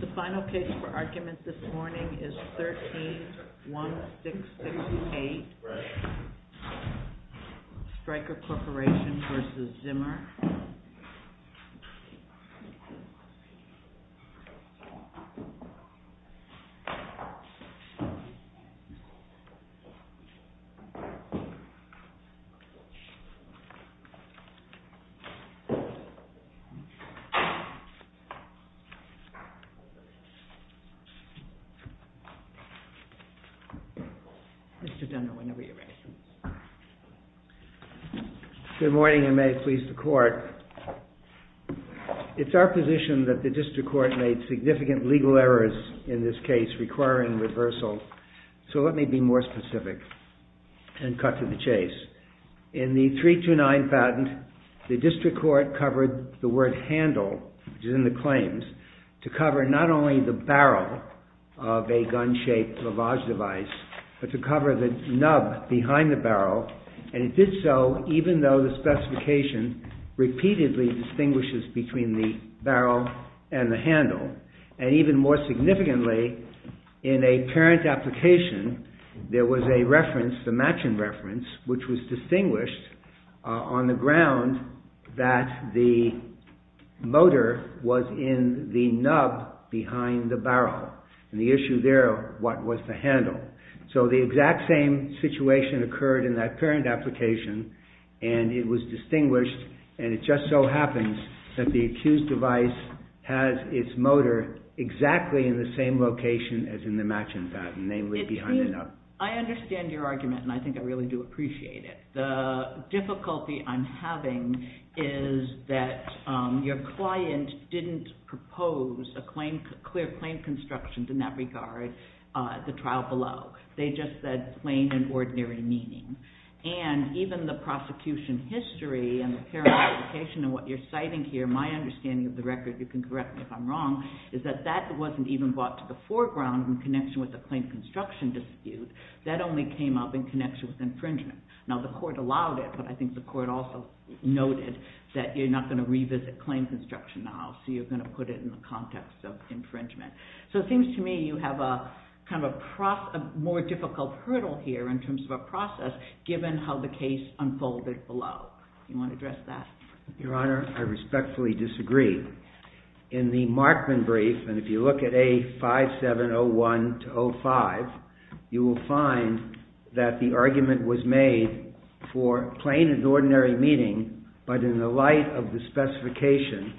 The final case for argument this morning is 13-1668 Stryker Corporation v. Zimmer Good morning and may it please the court. It's our position that the district court made significant legal errors in this case requiring reversal, so let me be more specific and cut to the chase. In the 329 patent, the district court covered the word handle, which is in the claims, to cover not only the barrel of a gun-shaped lavage device, but to cover the nub behind the barrel, and it did so even though the specification repeatedly distinguishes between the barrel and the handle. And even more significantly, in a parent application, there was a reference, the matching reference, which was distinguished on the ground that the motor was in the nub behind the barrel, and the issue there was what was the handle. So the exact same situation occurred in that parent application, and it was distinguished, and it just so happens that the accused device has its motor exactly in the same location as in the matching patent, namely behind the nub. I understand your argument, and I think I really do appreciate it. The difficulty I'm having is that your client didn't propose a clear claim construction in that regard at the trial below. They just said plain and ordinary meaning, and even the prosecution history and the parent application and what you're citing here, my understanding of the record, you can correct me if I'm wrong, is that that wasn't even brought to the foreground in connection with the claim construction dispute. That only came up in connection with infringement. Now the court allowed it, but I think the court also noted that you're not going to revisit claim construction now, so you're going to put it in the context of infringement. So it seems to me you have a more difficult hurdle here in terms of a process, given how the case unfolded below. Do you want to address that? Your Honor, I respectfully disagree. In the Markman brief, and if you look at A5701-05, you will find that the argument was made for plain and ordinary meaning, but in the light of the specification,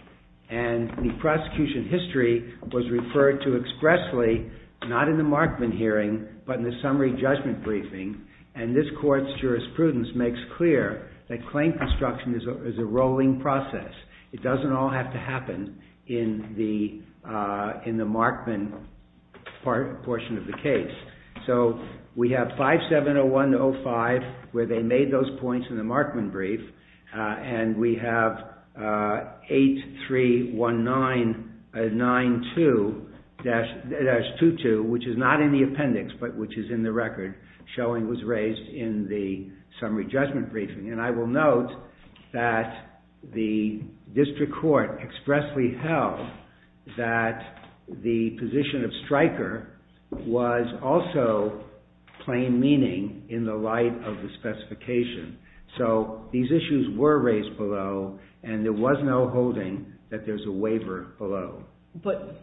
and the prosecution history was referred to expressly, not in the Markman hearing, but in the summary judgment briefing, and this court's jurisprudence makes clear that claim construction is a rolling process. It doesn't all have to happen in the Markman portion of the case. So we have A5701-05, where they made those points in the Markman brief, and we have A8319-92-22, which is not in the appendix, but which is in the record, showing it was raised in the summary judgment briefing. And I will note that the district court expressly held that the position of striker was also plain meaning in the light of the specification. So these issues were raised below, and there was no holding that there's a waiver below. But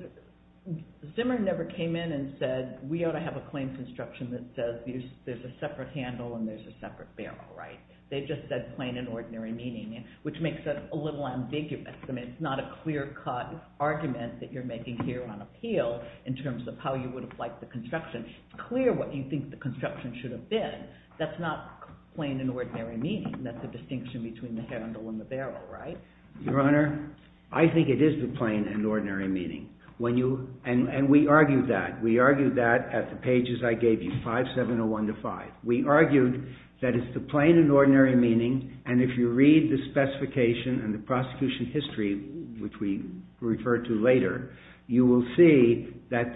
Zimmer never came in and said, we ought to have a claim construction that says there's a separate handle and there's a separate barrel, right? They just said plain and ordinary meaning, which makes it a little ambiguous. I mean, it's not a clear-cut argument that you're making here on appeal in terms of how you would have liked the construction. It's clear what you think the construction should have been. That's not plain and ordinary meaning. That's the distinction between the handle and the barrel, right? Your Honor, I think it is the plain and ordinary meaning. And we argued that. We argued that at the pages I gave you, A5701-05. We argued that it's the plain and ordinary meaning, and if you read the specification and the prosecution history, which we refer to later, you will see that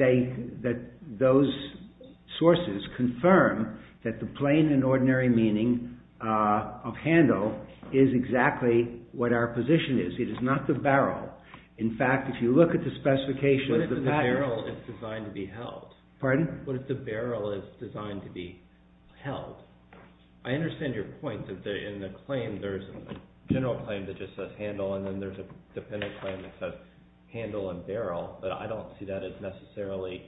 those sources confirm that the plain and ordinary meaning of handle is exactly what our position was. Our position is it is not the barrel. In fact, if you look at the specification of the pattern… What if the barrel is designed to be held? Pardon? What if the barrel is designed to be held? I understand your point that in the claim there's a general claim that just says handle, and then there's a dependent claim that says handle and barrel, but I don't see that as necessarily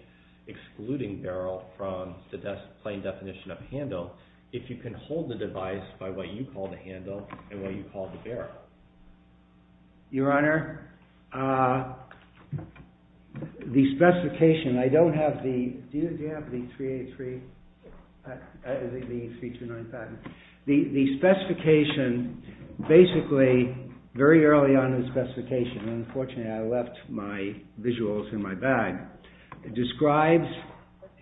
excluding barrel from the plain definition of handle. If you can hold the device by what you call the handle and what you call the barrel. Your Honor, the specification… I don't have the… Do you have the 383? The 329 pattern? The specification, basically, very early on in the specification, unfortunately I left my visuals in my bag, describes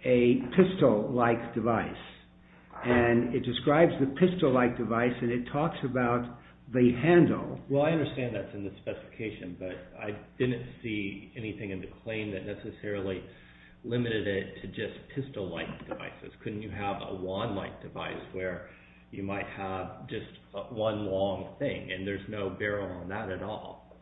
a pistol-like device. And it describes the pistol-like device and it talks about the handle. Well, I understand that's in the specification, but I didn't see anything in the claim that necessarily limited it to just pistol-like devices. Couldn't you have a wand-like device where you might have just one long thing and there's no barrel on that at all?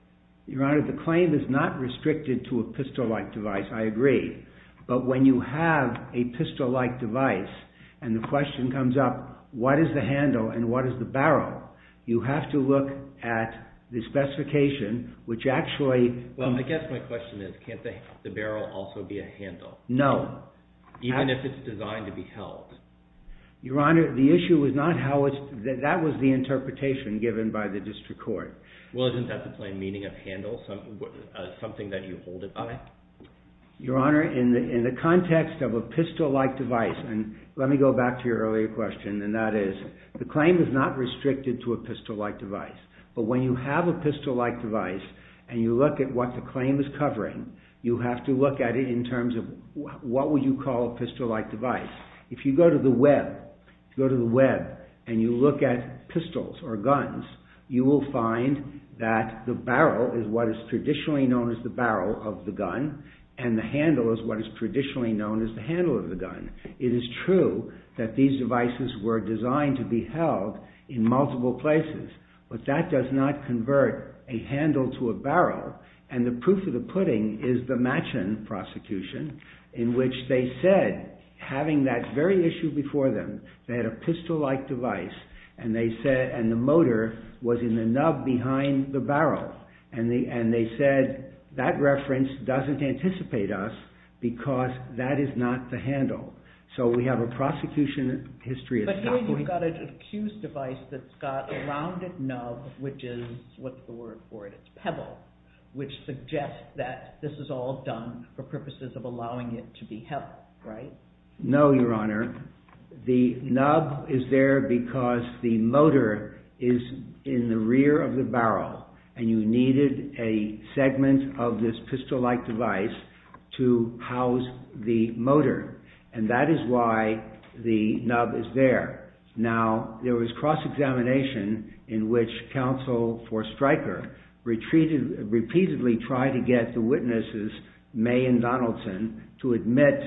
Your Honor, the claim is not restricted to a pistol-like device, I agree. But when you have a pistol-like device and the question comes up, what is the handle and what is the barrel, you have to look at the specification, which actually… Well, I guess my question is, can't the barrel also be a handle? No. Even if it's designed to be held? Your Honor, the issue is not how it's… That was the interpretation given by the district court. Well, isn't that the plain meaning of handle, something that you hold it by? Your Honor, in the context of a pistol-like device, and let me go back to your earlier question, and that is, the claim is not restricted to a pistol-like device. But when you have a pistol-like device and you look at what the claim is covering, you have to look at it in terms of what would you call a pistol-like device. If you go to the web and you look at pistols or guns, you will find that the barrel is what is traditionally known as the barrel of the gun and the handle is what is traditionally known as the handle of the gun. It is true that these devices were designed to be held in multiple places, but that does not convert a handle to a barrel, and the proof of the pudding is the Machen prosecution, in which they said, having that very issue before them, they had a pistol-like device and the motor was in the nub behind the barrel, and they said, that reference doesn't anticipate us because that is not the handle. So we have a prosecution history… But here you've got an accused device that's got a rounded nub, which is… What's the word for it? It's pebble, which suggests that this is all done for purposes of allowing it to be held, right? No, Your Honor. The nub is there because the motor is in the rear of the barrel, and you needed a segment of this pistol-like device to house the motor, and that is why the nub is there. Now, there was cross-examination in which counsel for Stryker repeatedly tried to get the witnesses, May and Donaldson, to admit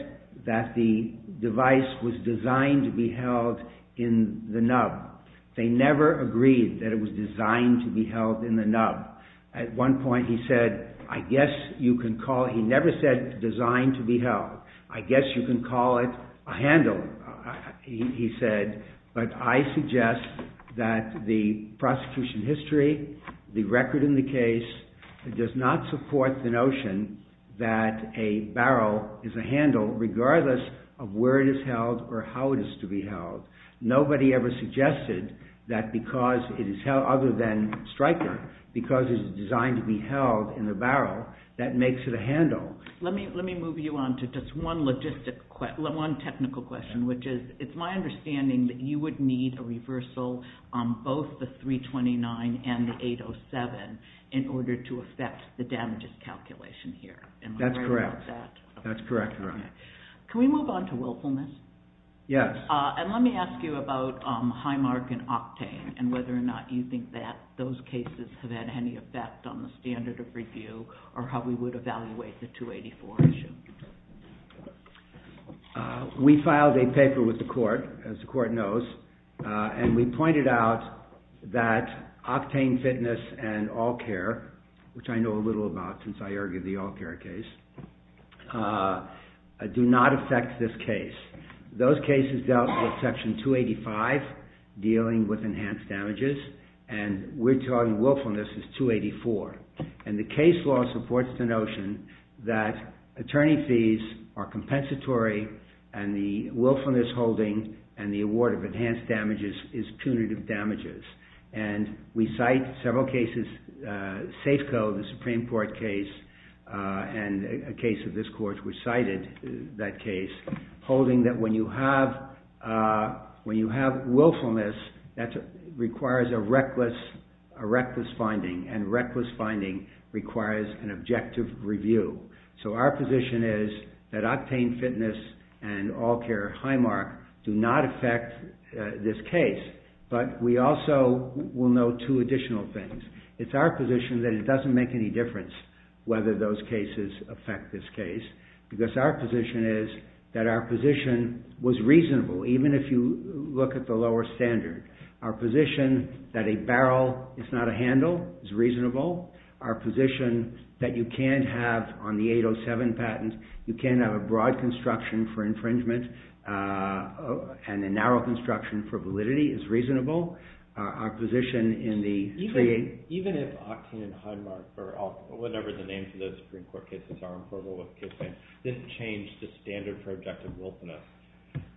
that the device was designed to be held in the nub. They never agreed that it was designed to be held in the nub. At one point he said, I guess you can call it… He never said designed to be held. I guess you can call it a handle, he said, but I suggest that the prosecution history, the record in the case, does not support the notion that a barrel is a handle regardless of where it is held or how it is to be held. Nobody ever suggested that because it is held other than Stryker, because it is designed to be held in the barrel, that makes it a handle. Let me move you on to just one logistic question, one technical question, which is, it's my understanding that you would need a reversal on both the 329 and the 807 in order to affect the damages calculation here. That's correct. That's correct, Your Honor. Can we move on to willfulness? Yes. And let me ask you about Highmark and Octane and whether or not you think that those cases have had any effect on the standard of review or how we would evaluate the 284 issue. We filed a paper with the court, as the court knows, and we pointed out that Octane Fitness and All Care, which I know a little about since I argued the All Care case, do not affect this case. Those cases dealt with Section 285, dealing with enhanced damages, and we're talking willfulness as 284. And the case law supports the notion that attorney fees are compensatory and the willfulness holding and the award of enhanced damages is punitive damages. And we cite several cases, Safeco, the Supreme Court case, and a case of this court which cited that case, holding that when you have willfulness, that requires a reckless finding, and reckless finding requires an objective review. So our position is that Octane Fitness and All Care Highmark do not affect this case, but we also will note two additional things. It's our position that it doesn't make any difference whether those cases affect this case because our position is that our position was reasonable, even if you look at the lower standard. Our position that a barrel is not a handle is reasonable. Our position that you can't have on the 807 patent, you can't have a broad construction for infringement and a narrow construction for validity is reasonable. Even if Octane and Highmark, or whatever the names of those Supreme Court cases are, didn't change the standard for objective willfulness,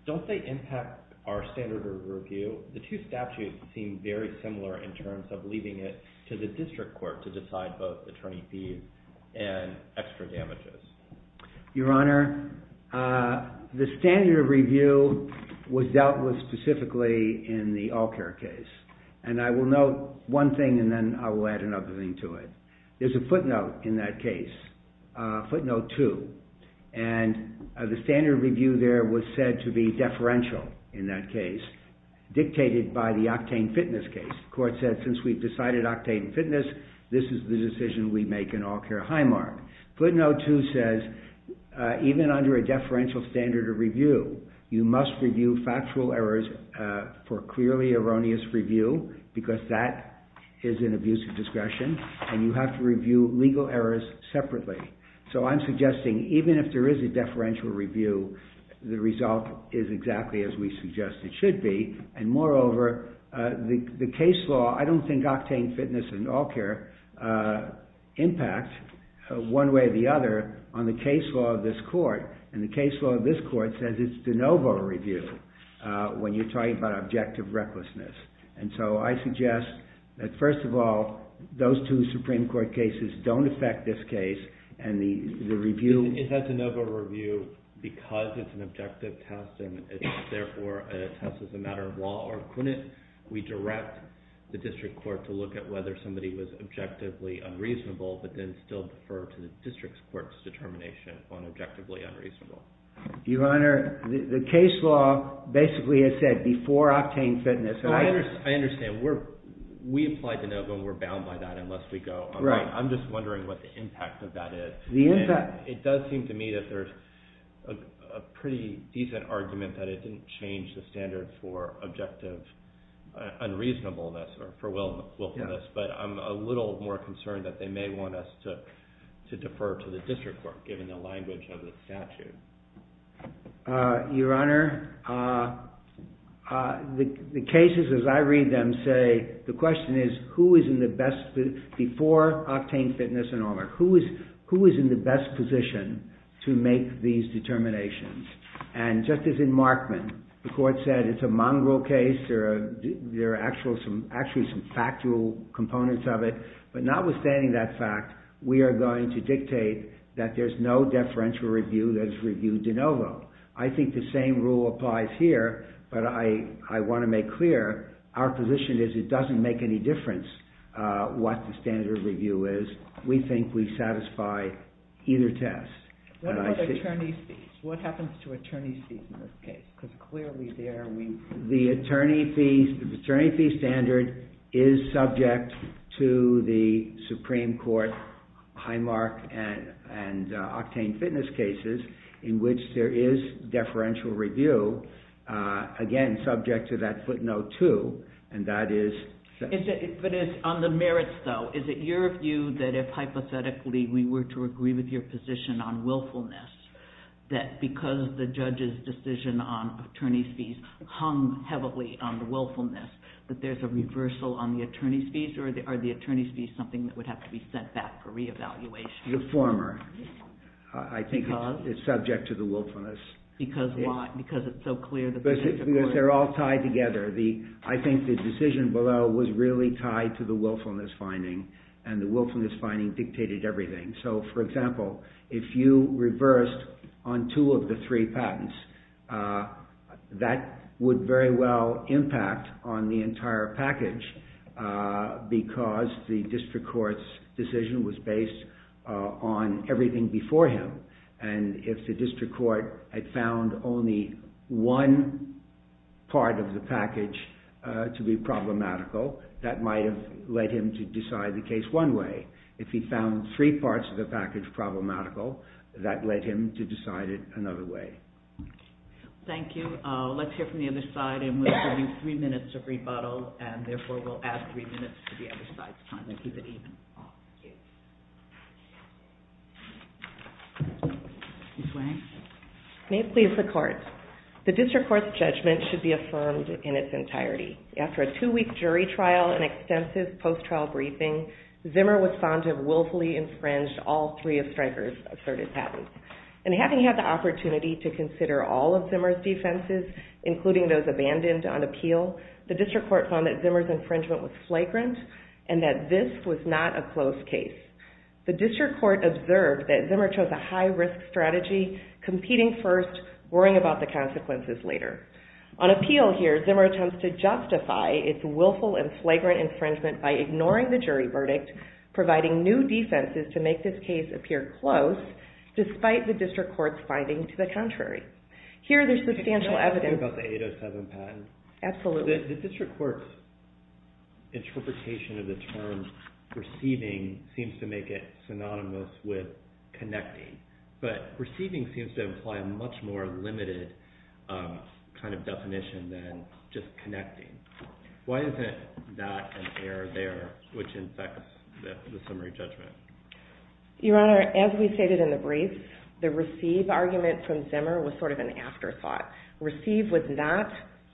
don't they impact our standard of review? The two statutes seem very similar in terms of leaving it to the district court to decide both attorney fees and extra damages. Your Honor, the standard of review was dealt with specifically in the All Care case, and I will note one thing and then I will add another thing to it. There's a footnote in that case, footnote two, and the standard of review there was said to be deferential in that case, dictated by the Octane Fitness case. The court said, since we've decided Octane Fitness, this is the decision we make in All Care-Highmark. Footnote two says, even under a deferential standard of review, you must review factual errors for clearly erroneous review because that is an abuse of discretion and you have to review legal errors separately. So I'm suggesting, even if there is a deferential review, the result is exactly as we suggest it should be, and moreover, the case law, I don't think Octane Fitness and All Care impact, one way or the other, on the case law of this court. And the case law of this court says it's de novo review when you're talking about objective recklessness. And so I suggest that, first of all, those two Supreme Court cases don't affect this case, and the review- It has de novo review because it's an objective test, and it's therefore a test as a matter of law, or couldn't we direct the district court to look at whether somebody was objectively unreasonable, but then still defer to the district court's determination on objectively unreasonable? Your Honor, the case law basically has said before Octane Fitness- I understand. We applied de novo and we're bound by that unless we go- Right. I'm just wondering what the impact of that is. The impact- It does seem to me that there's a pretty decent argument that it didn't change the standard for objective unreasonableness or for willfulness, but I'm a little more concerned that they may want us to defer to the district court, given the language of the statute. Your Honor, the cases, as I read them, say- The question is, who is in the best- Before Octane Fitness and all that, who is in the best position to make these determinations? Just as in Markman, the court said it's a mongrel case, there are actually some factual components of it, but notwithstanding that fact, we are going to dictate that there's no deferential review that is reviewed de novo. I think the same rule applies here, but I want to make clear, our position is it doesn't make any difference what the standard review is. We think we satisfy either test. What about attorney's fees? What happens to attorney's fees in this case? Because clearly there are- The attorney fee standard is subject to the Supreme Court high mark and Octane Fitness cases, in which there is deferential review, again, subject to that footnote too, and that is- But on the merits though, is it your view that if hypothetically we were to agree with your position on willfulness, that because the judge's decision on attorney's fees hung heavily on the willfulness, that there's a reversal on the attorney's fees, or are the attorney's fees something that would have to be sent back for reevaluation? The former. Because? I think it's subject to the willfulness. Because why? Because it's so clear that the district court- Because they're all tied together. I think the decision below was really tied to the willfulness finding, and the willfulness finding dictated everything. So, for example, if you reversed on two of the three patents, that would very well impact on the entire package, because the district court's decision was based on everything before him. And if the district court had found only one part of the package to be problematical, that might have led him to decide the case one way. If he found three parts of the package problematical, that led him to decide it another way. Thank you. Let's hear from the other side, and we'll give you three minutes of rebuttal, and therefore we'll add three minutes to the other side's time to keep it even. Thank you. Ms. Wang? May it please the Court. The district court's judgment should be affirmed in its entirety. After a two-week jury trial and extensive post-trial briefing, Zimmer was found to have willfully infringed all three of Stryker's asserted patents. And having had the opportunity to consider all of Zimmer's defenses, including those abandoned on appeal, the district court found that Zimmer's infringement was flagrant, and that this was not a closed case. The district court observed that Zimmer chose a high-risk strategy, competing first, worrying about the consequences later. On appeal here, Zimmer attempts to justify its willful and flagrant infringement by ignoring the jury verdict, providing new defenses to make this case appear close, despite the district court's finding to the contrary. Here, there's substantial evidence… Can I ask you about the 807 patent? Absolutely. So the district court's interpretation of the term receiving seems to make it synonymous with connecting. But receiving seems to imply a much more limited kind of definition than just connecting. Why is it not an error there, which infects the summary judgment? Your Honor, as we stated in the brief, the receive argument from Zimmer was sort of an afterthought. Receive was not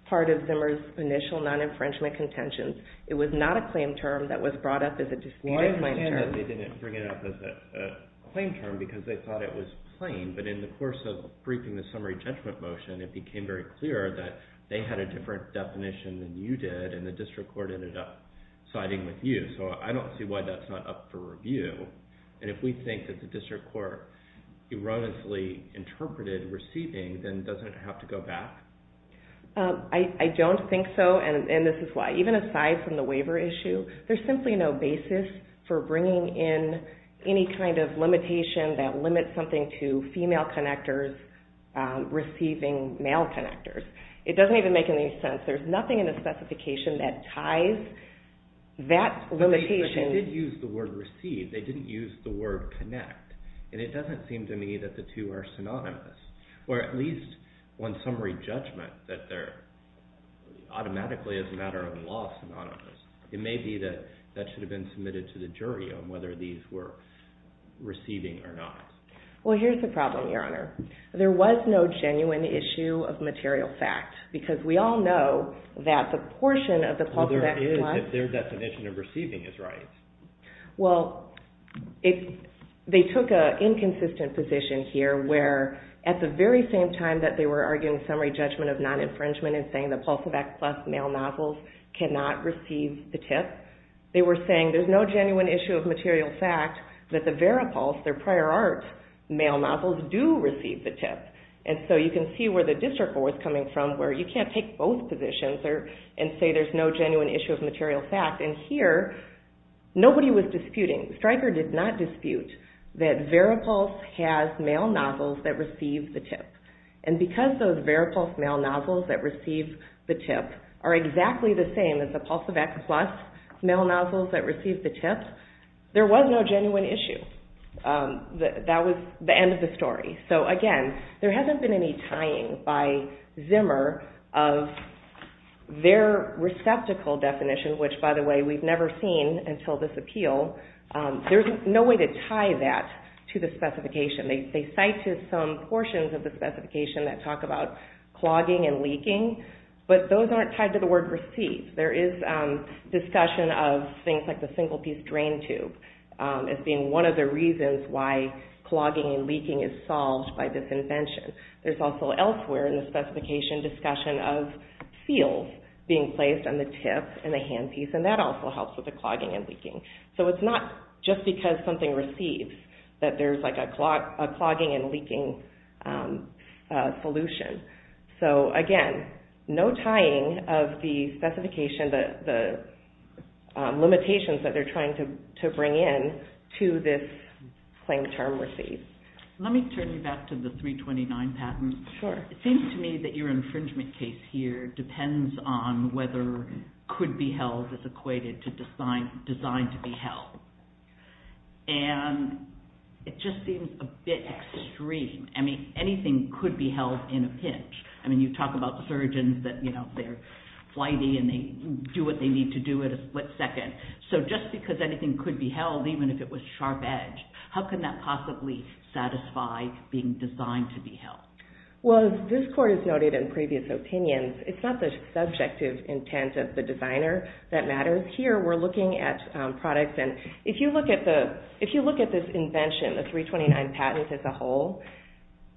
part of Zimmer's initial non-infringement contentions. It was not a claim term that was brought up as a definitive claim term. Well, I understand that they didn't bring it up as a claim term because they thought it was plain. But in the course of briefing the summary judgment motion, it became very clear that they had a different definition than you did, and the district court ended up siding with you. So I don't see why that's not up for review. And if we think that the district court erroneously interpreted receiving, then doesn't it have to go back? I don't think so, and this is why. Even aside from the waiver issue, there's simply no basis for bringing in any kind of limitation that limits something to female connectors receiving male connectors. It doesn't even make any sense. There's nothing in the specification that ties that limitation. But they did use the word receive. They didn't use the word connect. And it doesn't seem to me that the two are synonymous, or at least on summary judgment that they're automatically, as a matter of law, synonymous. It may be that that should have been submitted to the jury on whether these were receiving or not. Well, here's the problem, Your Honor. There was no genuine issue of material fact, because we all know that the portion of the Pulse of X Plus… Well, there is, if their definition of receiving is right. Well, they took an inconsistent position here, where at the very same time that they were arguing summary judgment of non-infringement and saying the Pulse of X Plus male nozzles cannot receive the tip, they were saying there's no genuine issue of material fact that the Veripulse, their prior art male nozzles, do receive the tip. And so you can see where the district court was coming from, where you can't take both positions and say there's no genuine issue of material fact. And here, nobody was disputing. Stryker did not dispute that Veripulse has male nozzles that receive the tip. And because those Veripulse male nozzles that receive the tip are exactly the same as the Pulse of X Plus male nozzles that receive the tip, there was no genuine issue. That was the end of the story. So, again, there hasn't been any tying by Zimmer of their receptacle definition, which, by the way, we've never seen until this appeal. There's no way to tie that to the specification. They cite some portions of the specification that talk about clogging and leaking, but those aren't tied to the word receive. There is discussion of things like the single-piece drain tube as being one of the reasons why clogging and leaking is solved by this invention. There's also elsewhere in the specification discussion of seals being placed on the tip and the handpiece, and that also helps with the clogging and leaking. So it's not just because something receives that there's a clogging and leaking solution. So, again, no tying of the limitations that they're trying to bring in to this claim term receive. Let me turn you back to the 329 patent. Sure. It seems to me that your infringement case here depends on whether could-be-held is equated to designed-to-be-held, and it just seems a bit extreme. I mean, anything could be held in a pinch. I mean, you talk about surgeons that they're flighty and they do what they need to do at a split second. So just because anything could be held, even if it was sharp-edged, how can that possibly satisfy being designed-to-be-held? Well, as this Court has noted in previous opinions, it's not the subjective intent of the designer that matters here. We're looking at products, and if you look at this invention, the 329 patent as a whole,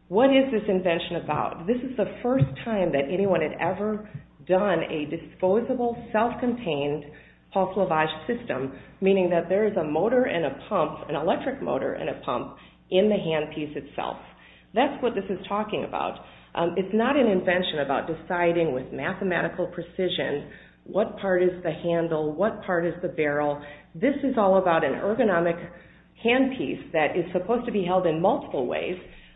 what is this invention about? This is the first time that anyone had ever done a disposable, self-contained Paul Cleavage system, meaning that there is a motor and a pump, an electric motor and a pump, in the handpiece itself. That's what this is talking about. It's not an invention about deciding with mathematical precision what part is the handle, what part is the barrel. This is all about an ergonomic handpiece that is supposed to be held in multiple ways.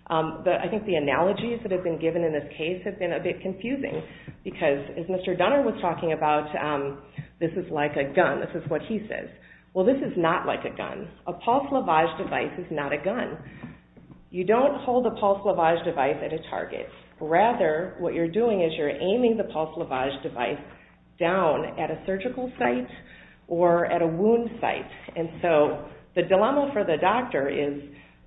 I think the analogies that have been given in this case have been a bit confusing, because as Mr. Dunner was talking about, this is like a gun, this is what he says. Well, this is not like a gun. A Paul Cleavage device is not a gun. You don't hold a Paul Cleavage device at a target. Rather, what you're doing is you're aiming the Paul Cleavage device down at a surgical site or at a wound site. The dilemma for the doctor is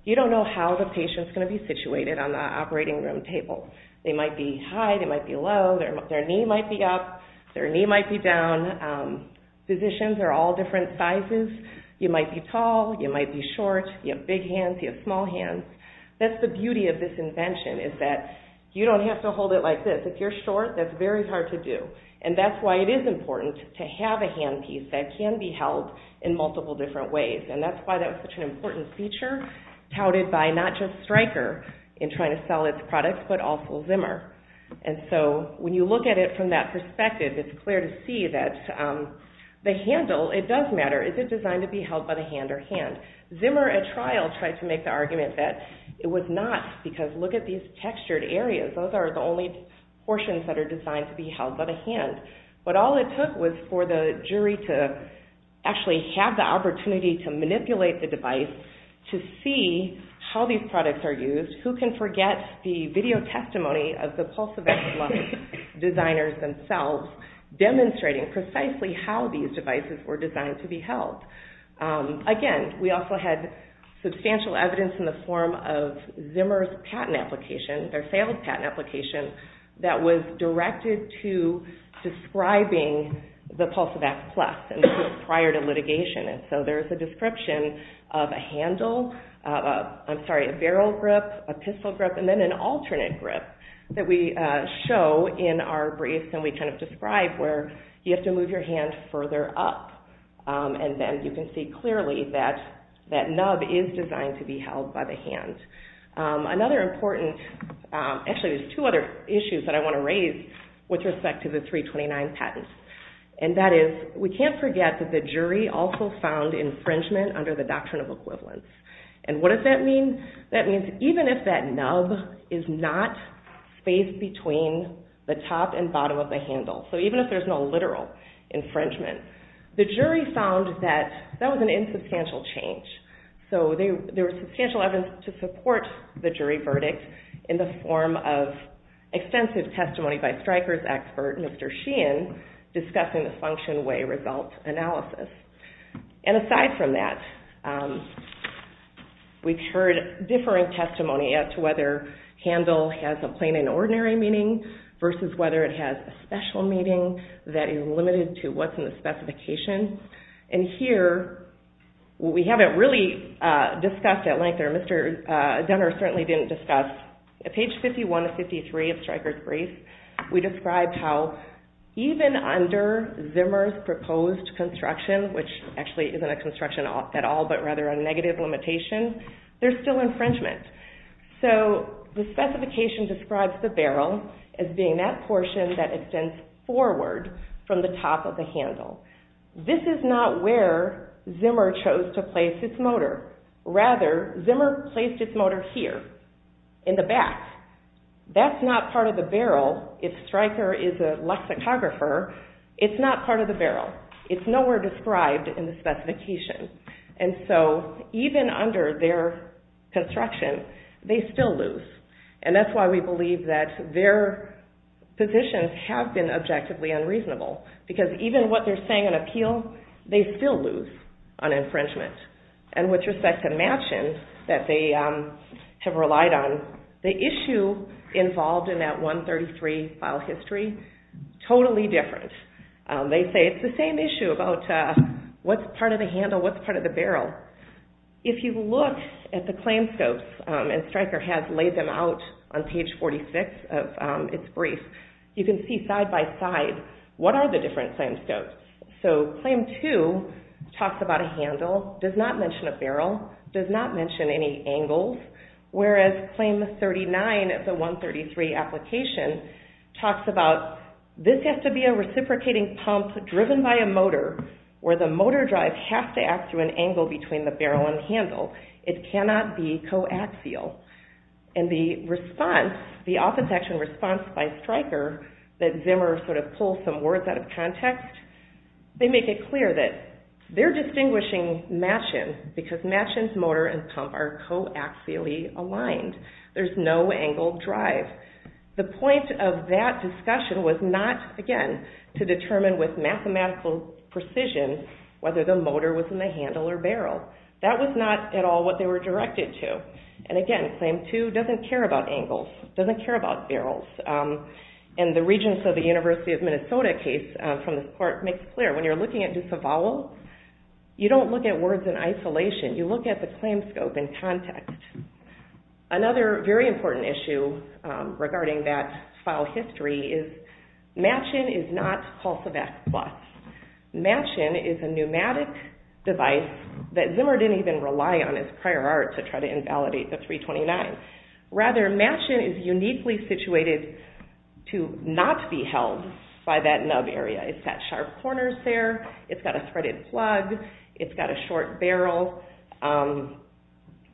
you don't know how the patient is going to be situated on the operating room table. They might be high, they might be low, their knee might be up, their knee might be down. Physicians are all different sizes. You might be tall, you might be short, you have big hands, you have small hands. That's the beauty of this invention, is that you don't have to hold it like this. If you're short, that's very hard to do. That's why it is important to have a handpiece that can be held in multiple different ways. That's why that was such an important feature touted by not just Stryker in trying to sell its products, but also Zimmer. When you look at it from that perspective, it's clear to see that the handle, it does matter. Is it designed to be held by the hand or hand? Zimmer, at trial, tried to make the argument that it was not, because look at these textured areas. Those are the only portions that are designed to be held by the hand. All it took was for the jury to actually have the opportunity to manipulate the device to see how these products are used. Who can forget the video testimony of the Pulse of Excellence designers themselves, demonstrating precisely how these devices were designed to be held. Again, we also had substantial evidence in the form of Zimmer's patent application, their failed patent application, that was directed to describing the Pulse of X Plus prior to litigation. There's a description of a barrel grip, a pistol grip, and then an alternate grip that we show in our briefs that we describe where you have to move your hand further up. Then you can see clearly that that nub is designed to be held by the hand. Another important, actually there's two other issues that I want to raise with respect to the 329 patents. That is, we can't forget that the jury also found infringement under the doctrine of equivalence. What does that mean? That means even if that nub is not spaced between the top and bottom of the handle, so even if there's no literal infringement, the jury found that that was an insubstantial change. So there was substantial evidence to support the jury verdict in the form of extensive testimony by Stryker's expert, Mr. Sheehan, discussing the function-way result analysis. Aside from that, we've heard differing testimony as to whether handle has a plain and ordinary meaning versus whether it has a special meaning that is limited to what's in the specification. Here, what we haven't really discussed at length, or Mr. Dunner certainly didn't discuss, at page 51 to 53 of Stryker's brief, we describe how even under Zimmer's proposed construction, which actually isn't a construction at all but rather a negative limitation, there's still infringement. So the specification describes the barrel as being that portion that extends forward from the top of the handle. This is not where Zimmer chose to place his motor. Rather, Zimmer placed his motor here, in the back. That's not part of the barrel. If Stryker is a lexicographer, it's not part of the barrel. It's nowhere described in the specification. And so even under their construction, they still lose. And that's why we believe that their positions have been objectively unreasonable, because even what they're saying in appeal, they still lose on infringement. And with respect to matching that they have relied on, the issue involved in that 133 file history, totally different. They say it's the same issue about what's part of the handle, what's part of the barrel. If you look at the claim scopes, and Stryker has laid them out on page 46 of its brief, you can see side by side what are the different claim scopes. So claim 2 talks about a handle, does not mention a barrel, does not mention any angles, whereas claim 39 of the 133 application talks about this has to be a reciprocating pump driven by a motor, where the motor drive has to act through an angle between the barrel and handle. It cannot be coaxial. And the response, the offense action response by Stryker, that Zimmer sort of pulls some words out of context, they make it clear that they're distinguishing matching because matching motor and pump are coaxially aligned. There's no angle drive. The point of that discussion was not, again, to determine with mathematical precision whether the motor was in the handle or barrel. That was not at all what they were directed to. And again, claim 2 doesn't care about angles, doesn't care about barrels. And the Regents of the University of Minnesota case from this court makes it clear, when you're looking at Ducevallo, you don't look at words in isolation. You look at the claim scope in context. Another very important issue regarding that file history is matching is not Pulse of X+. Matching is a pneumatic device that Zimmer didn't even rely on as prior art to try to invalidate the 329. Rather, matching is uniquely situated to not be held by that nub area. It's got sharp corners there. It's got a threaded plug. It's got a short barrel,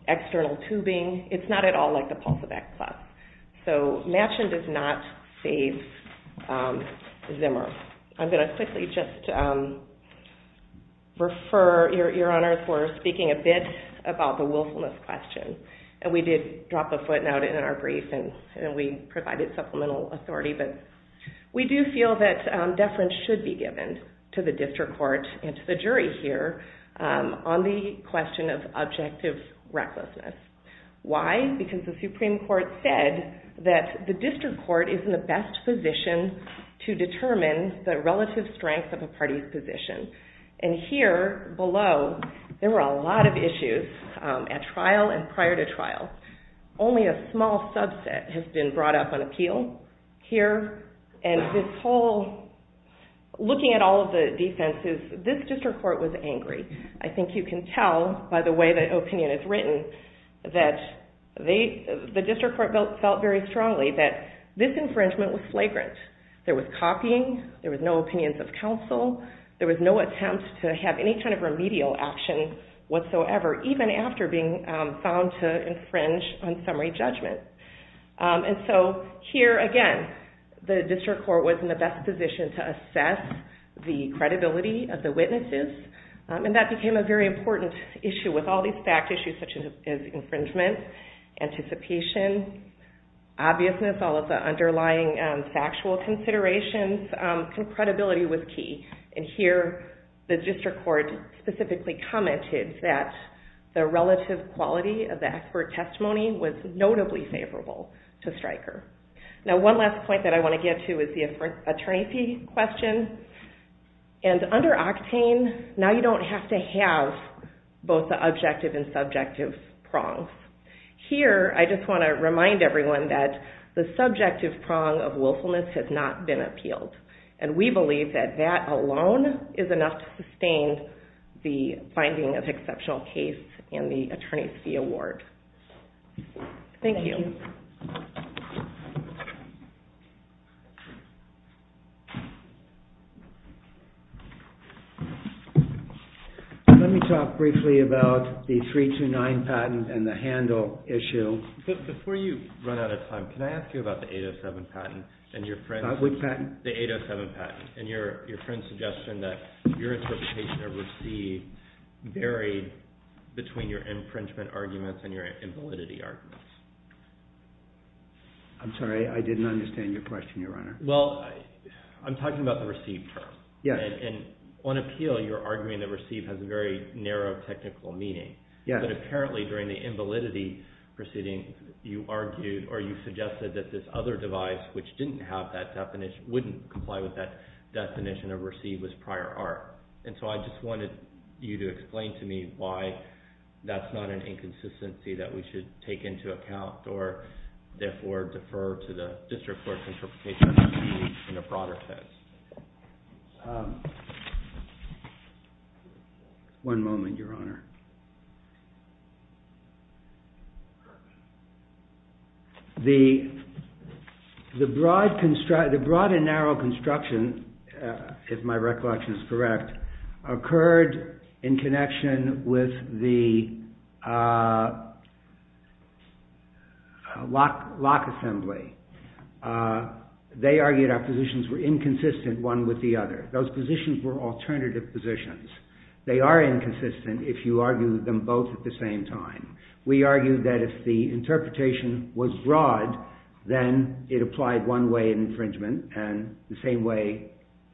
external tubing. It's not at all like the Pulse of X+. So, matching does not save Zimmer. I'm going to quickly just refer your Honor for speaking a bit about the willfulness question. And we did drop a footnote in our brief and we provided supplemental authority. But we do feel that deference should be given to the district court and to the jury here on the question of objective recklessness. Why? Because the Supreme Court said that the district court is in the best position to determine the relative strength of a party's position. And here below, there were a lot of issues at trial and prior to trial. Only a small subset has been brought up on appeal here. And this whole, looking at all of the defenses, this district court was angry. I think you can tell by the way the opinion is written that the district court felt very strongly that this infringement was flagrant. There was copying. There was no opinions of counsel. There was no attempt to have any kind of remedial action whatsoever, even after being found to infringe on summary judgment. And so, here again, the district court was in the best position to assess the credibility of the witnesses, and that became a very important issue with all these fact issues such as infringement, anticipation, obviousness, all of the underlying factual considerations. Credibility was key. And here, the district court specifically commented that the relative quality of the expert testimony was notably favorable to Stryker. Now, one last point that I want to get to is the attorney fee question. And under Octane, now you don't have to have both the objective and subjective prongs. Here, I just want to remind everyone that the subjective prong of willfulness has not been appealed. And we believe that that alone is enough to sustain the finding of exceptional case and the attorney fee award. Thank you. Let me talk briefly about the 329 patent and the handle issue. Before you run out of time, can I ask you about the 807 patent and your friend's suggestion that your interpretation of receipt varied between your infringement arguments and your invalidity arguments? I'm sorry, I didn't understand your question, Your Honor. Well, I'm talking about the receipt first. And on appeal, you're arguing that receipt has a very narrow technical meaning. But apparently, during the invalidity proceeding, you argued or you suggested that this other device which didn't have that definition, wouldn't comply with that definition of receipt was prior art. And so I just wanted you to explain to me why that's not an inconsistency that we should take into account or therefore defer to the district court interpretation of receipt in a broader sense. One moment, Your Honor. The broad and narrow construction, if my recollection is correct, occurred in connection with the lock assembly. They argued our positions were inconsistent one with the other. Those positions were alternative positions. They are inconsistent if you argue them both at the same time. We argued that if the interpretation was broad, then it applied one way in infringement and the same way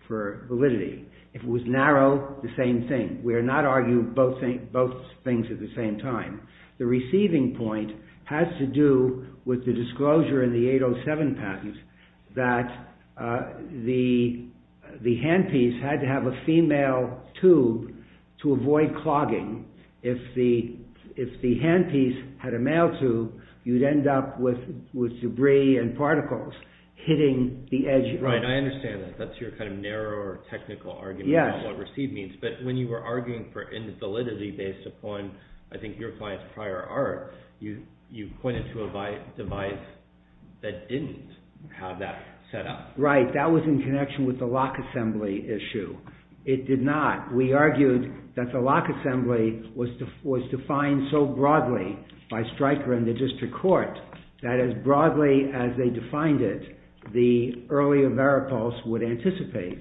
for validity. If it was narrow, the same thing. We are not arguing both things at the same time. The receiving point has to do with the disclosure in the 807 patent that the handpiece had to have a female tube to avoid clogging. If the handpiece had a male tube, you'd end up with debris and particles hitting the edge. Right, I understand that. That's your kind of narrower technical argument about what receipt means. But when you were arguing for invalidity based upon, I think, your client's prior art, you pointed to a device that didn't have that set up. Right, that was in connection with the lock assembly issue. It did not. We argued that the lock assembly was defined so broadly by Stryker and the district court that as broadly as they defined it, the earlier varipulse would anticipate.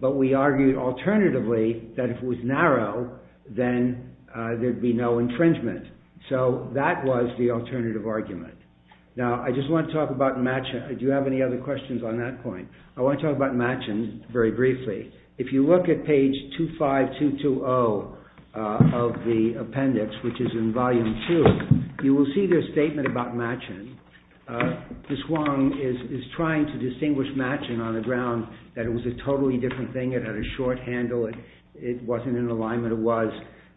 But we argued alternatively that if it was narrow, then there'd be no infringement. So that was the alternative argument. Now I just want to talk about matching. Do you have any other questions on that point? I want to talk about matching very briefly. If you look at page 25220 of the appendix, which is in volume 2, you will see their statement about matching. This one is trying to distinguish matching on the ground that it was a totally different thing. It had a short handle. It wasn't in alignment. It was.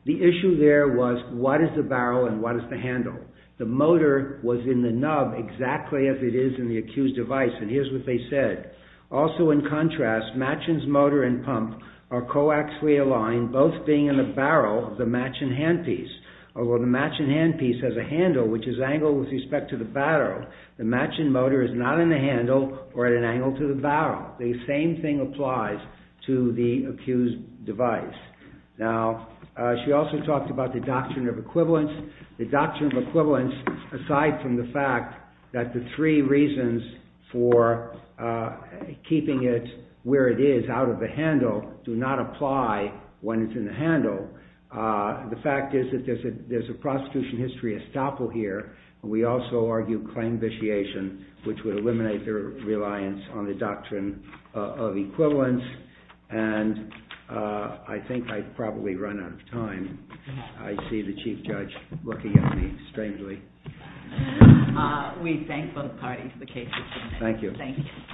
The issue there was what is the barrel and what is the handle? The motor was in the nub exactly as it is in the accused device. And here's what they said. Also in contrast, matching's motor and pump are coaxially aligned, both being in the barrel of the matching handpiece. Although the matching handpiece has a handle, which is angled with respect to the barrel, the matching motor is not in the handle or at an angle to the barrel. The same thing applies to the accused device. Now, she also talked about the doctrine of equivalence. The doctrine of equivalence, aside from the fact that the three reasons for keeping it where it is, out of the handle, do not apply when it's in the handle. The fact is that there's a prosecution history estoppel here. We also argue claim vitiation, which would eliminate their reliance on the doctrine of equivalence. And I think I've probably run out of time. I see the chief judge looking at me strangely. We thank both parties for the case. Thank you. Thank you.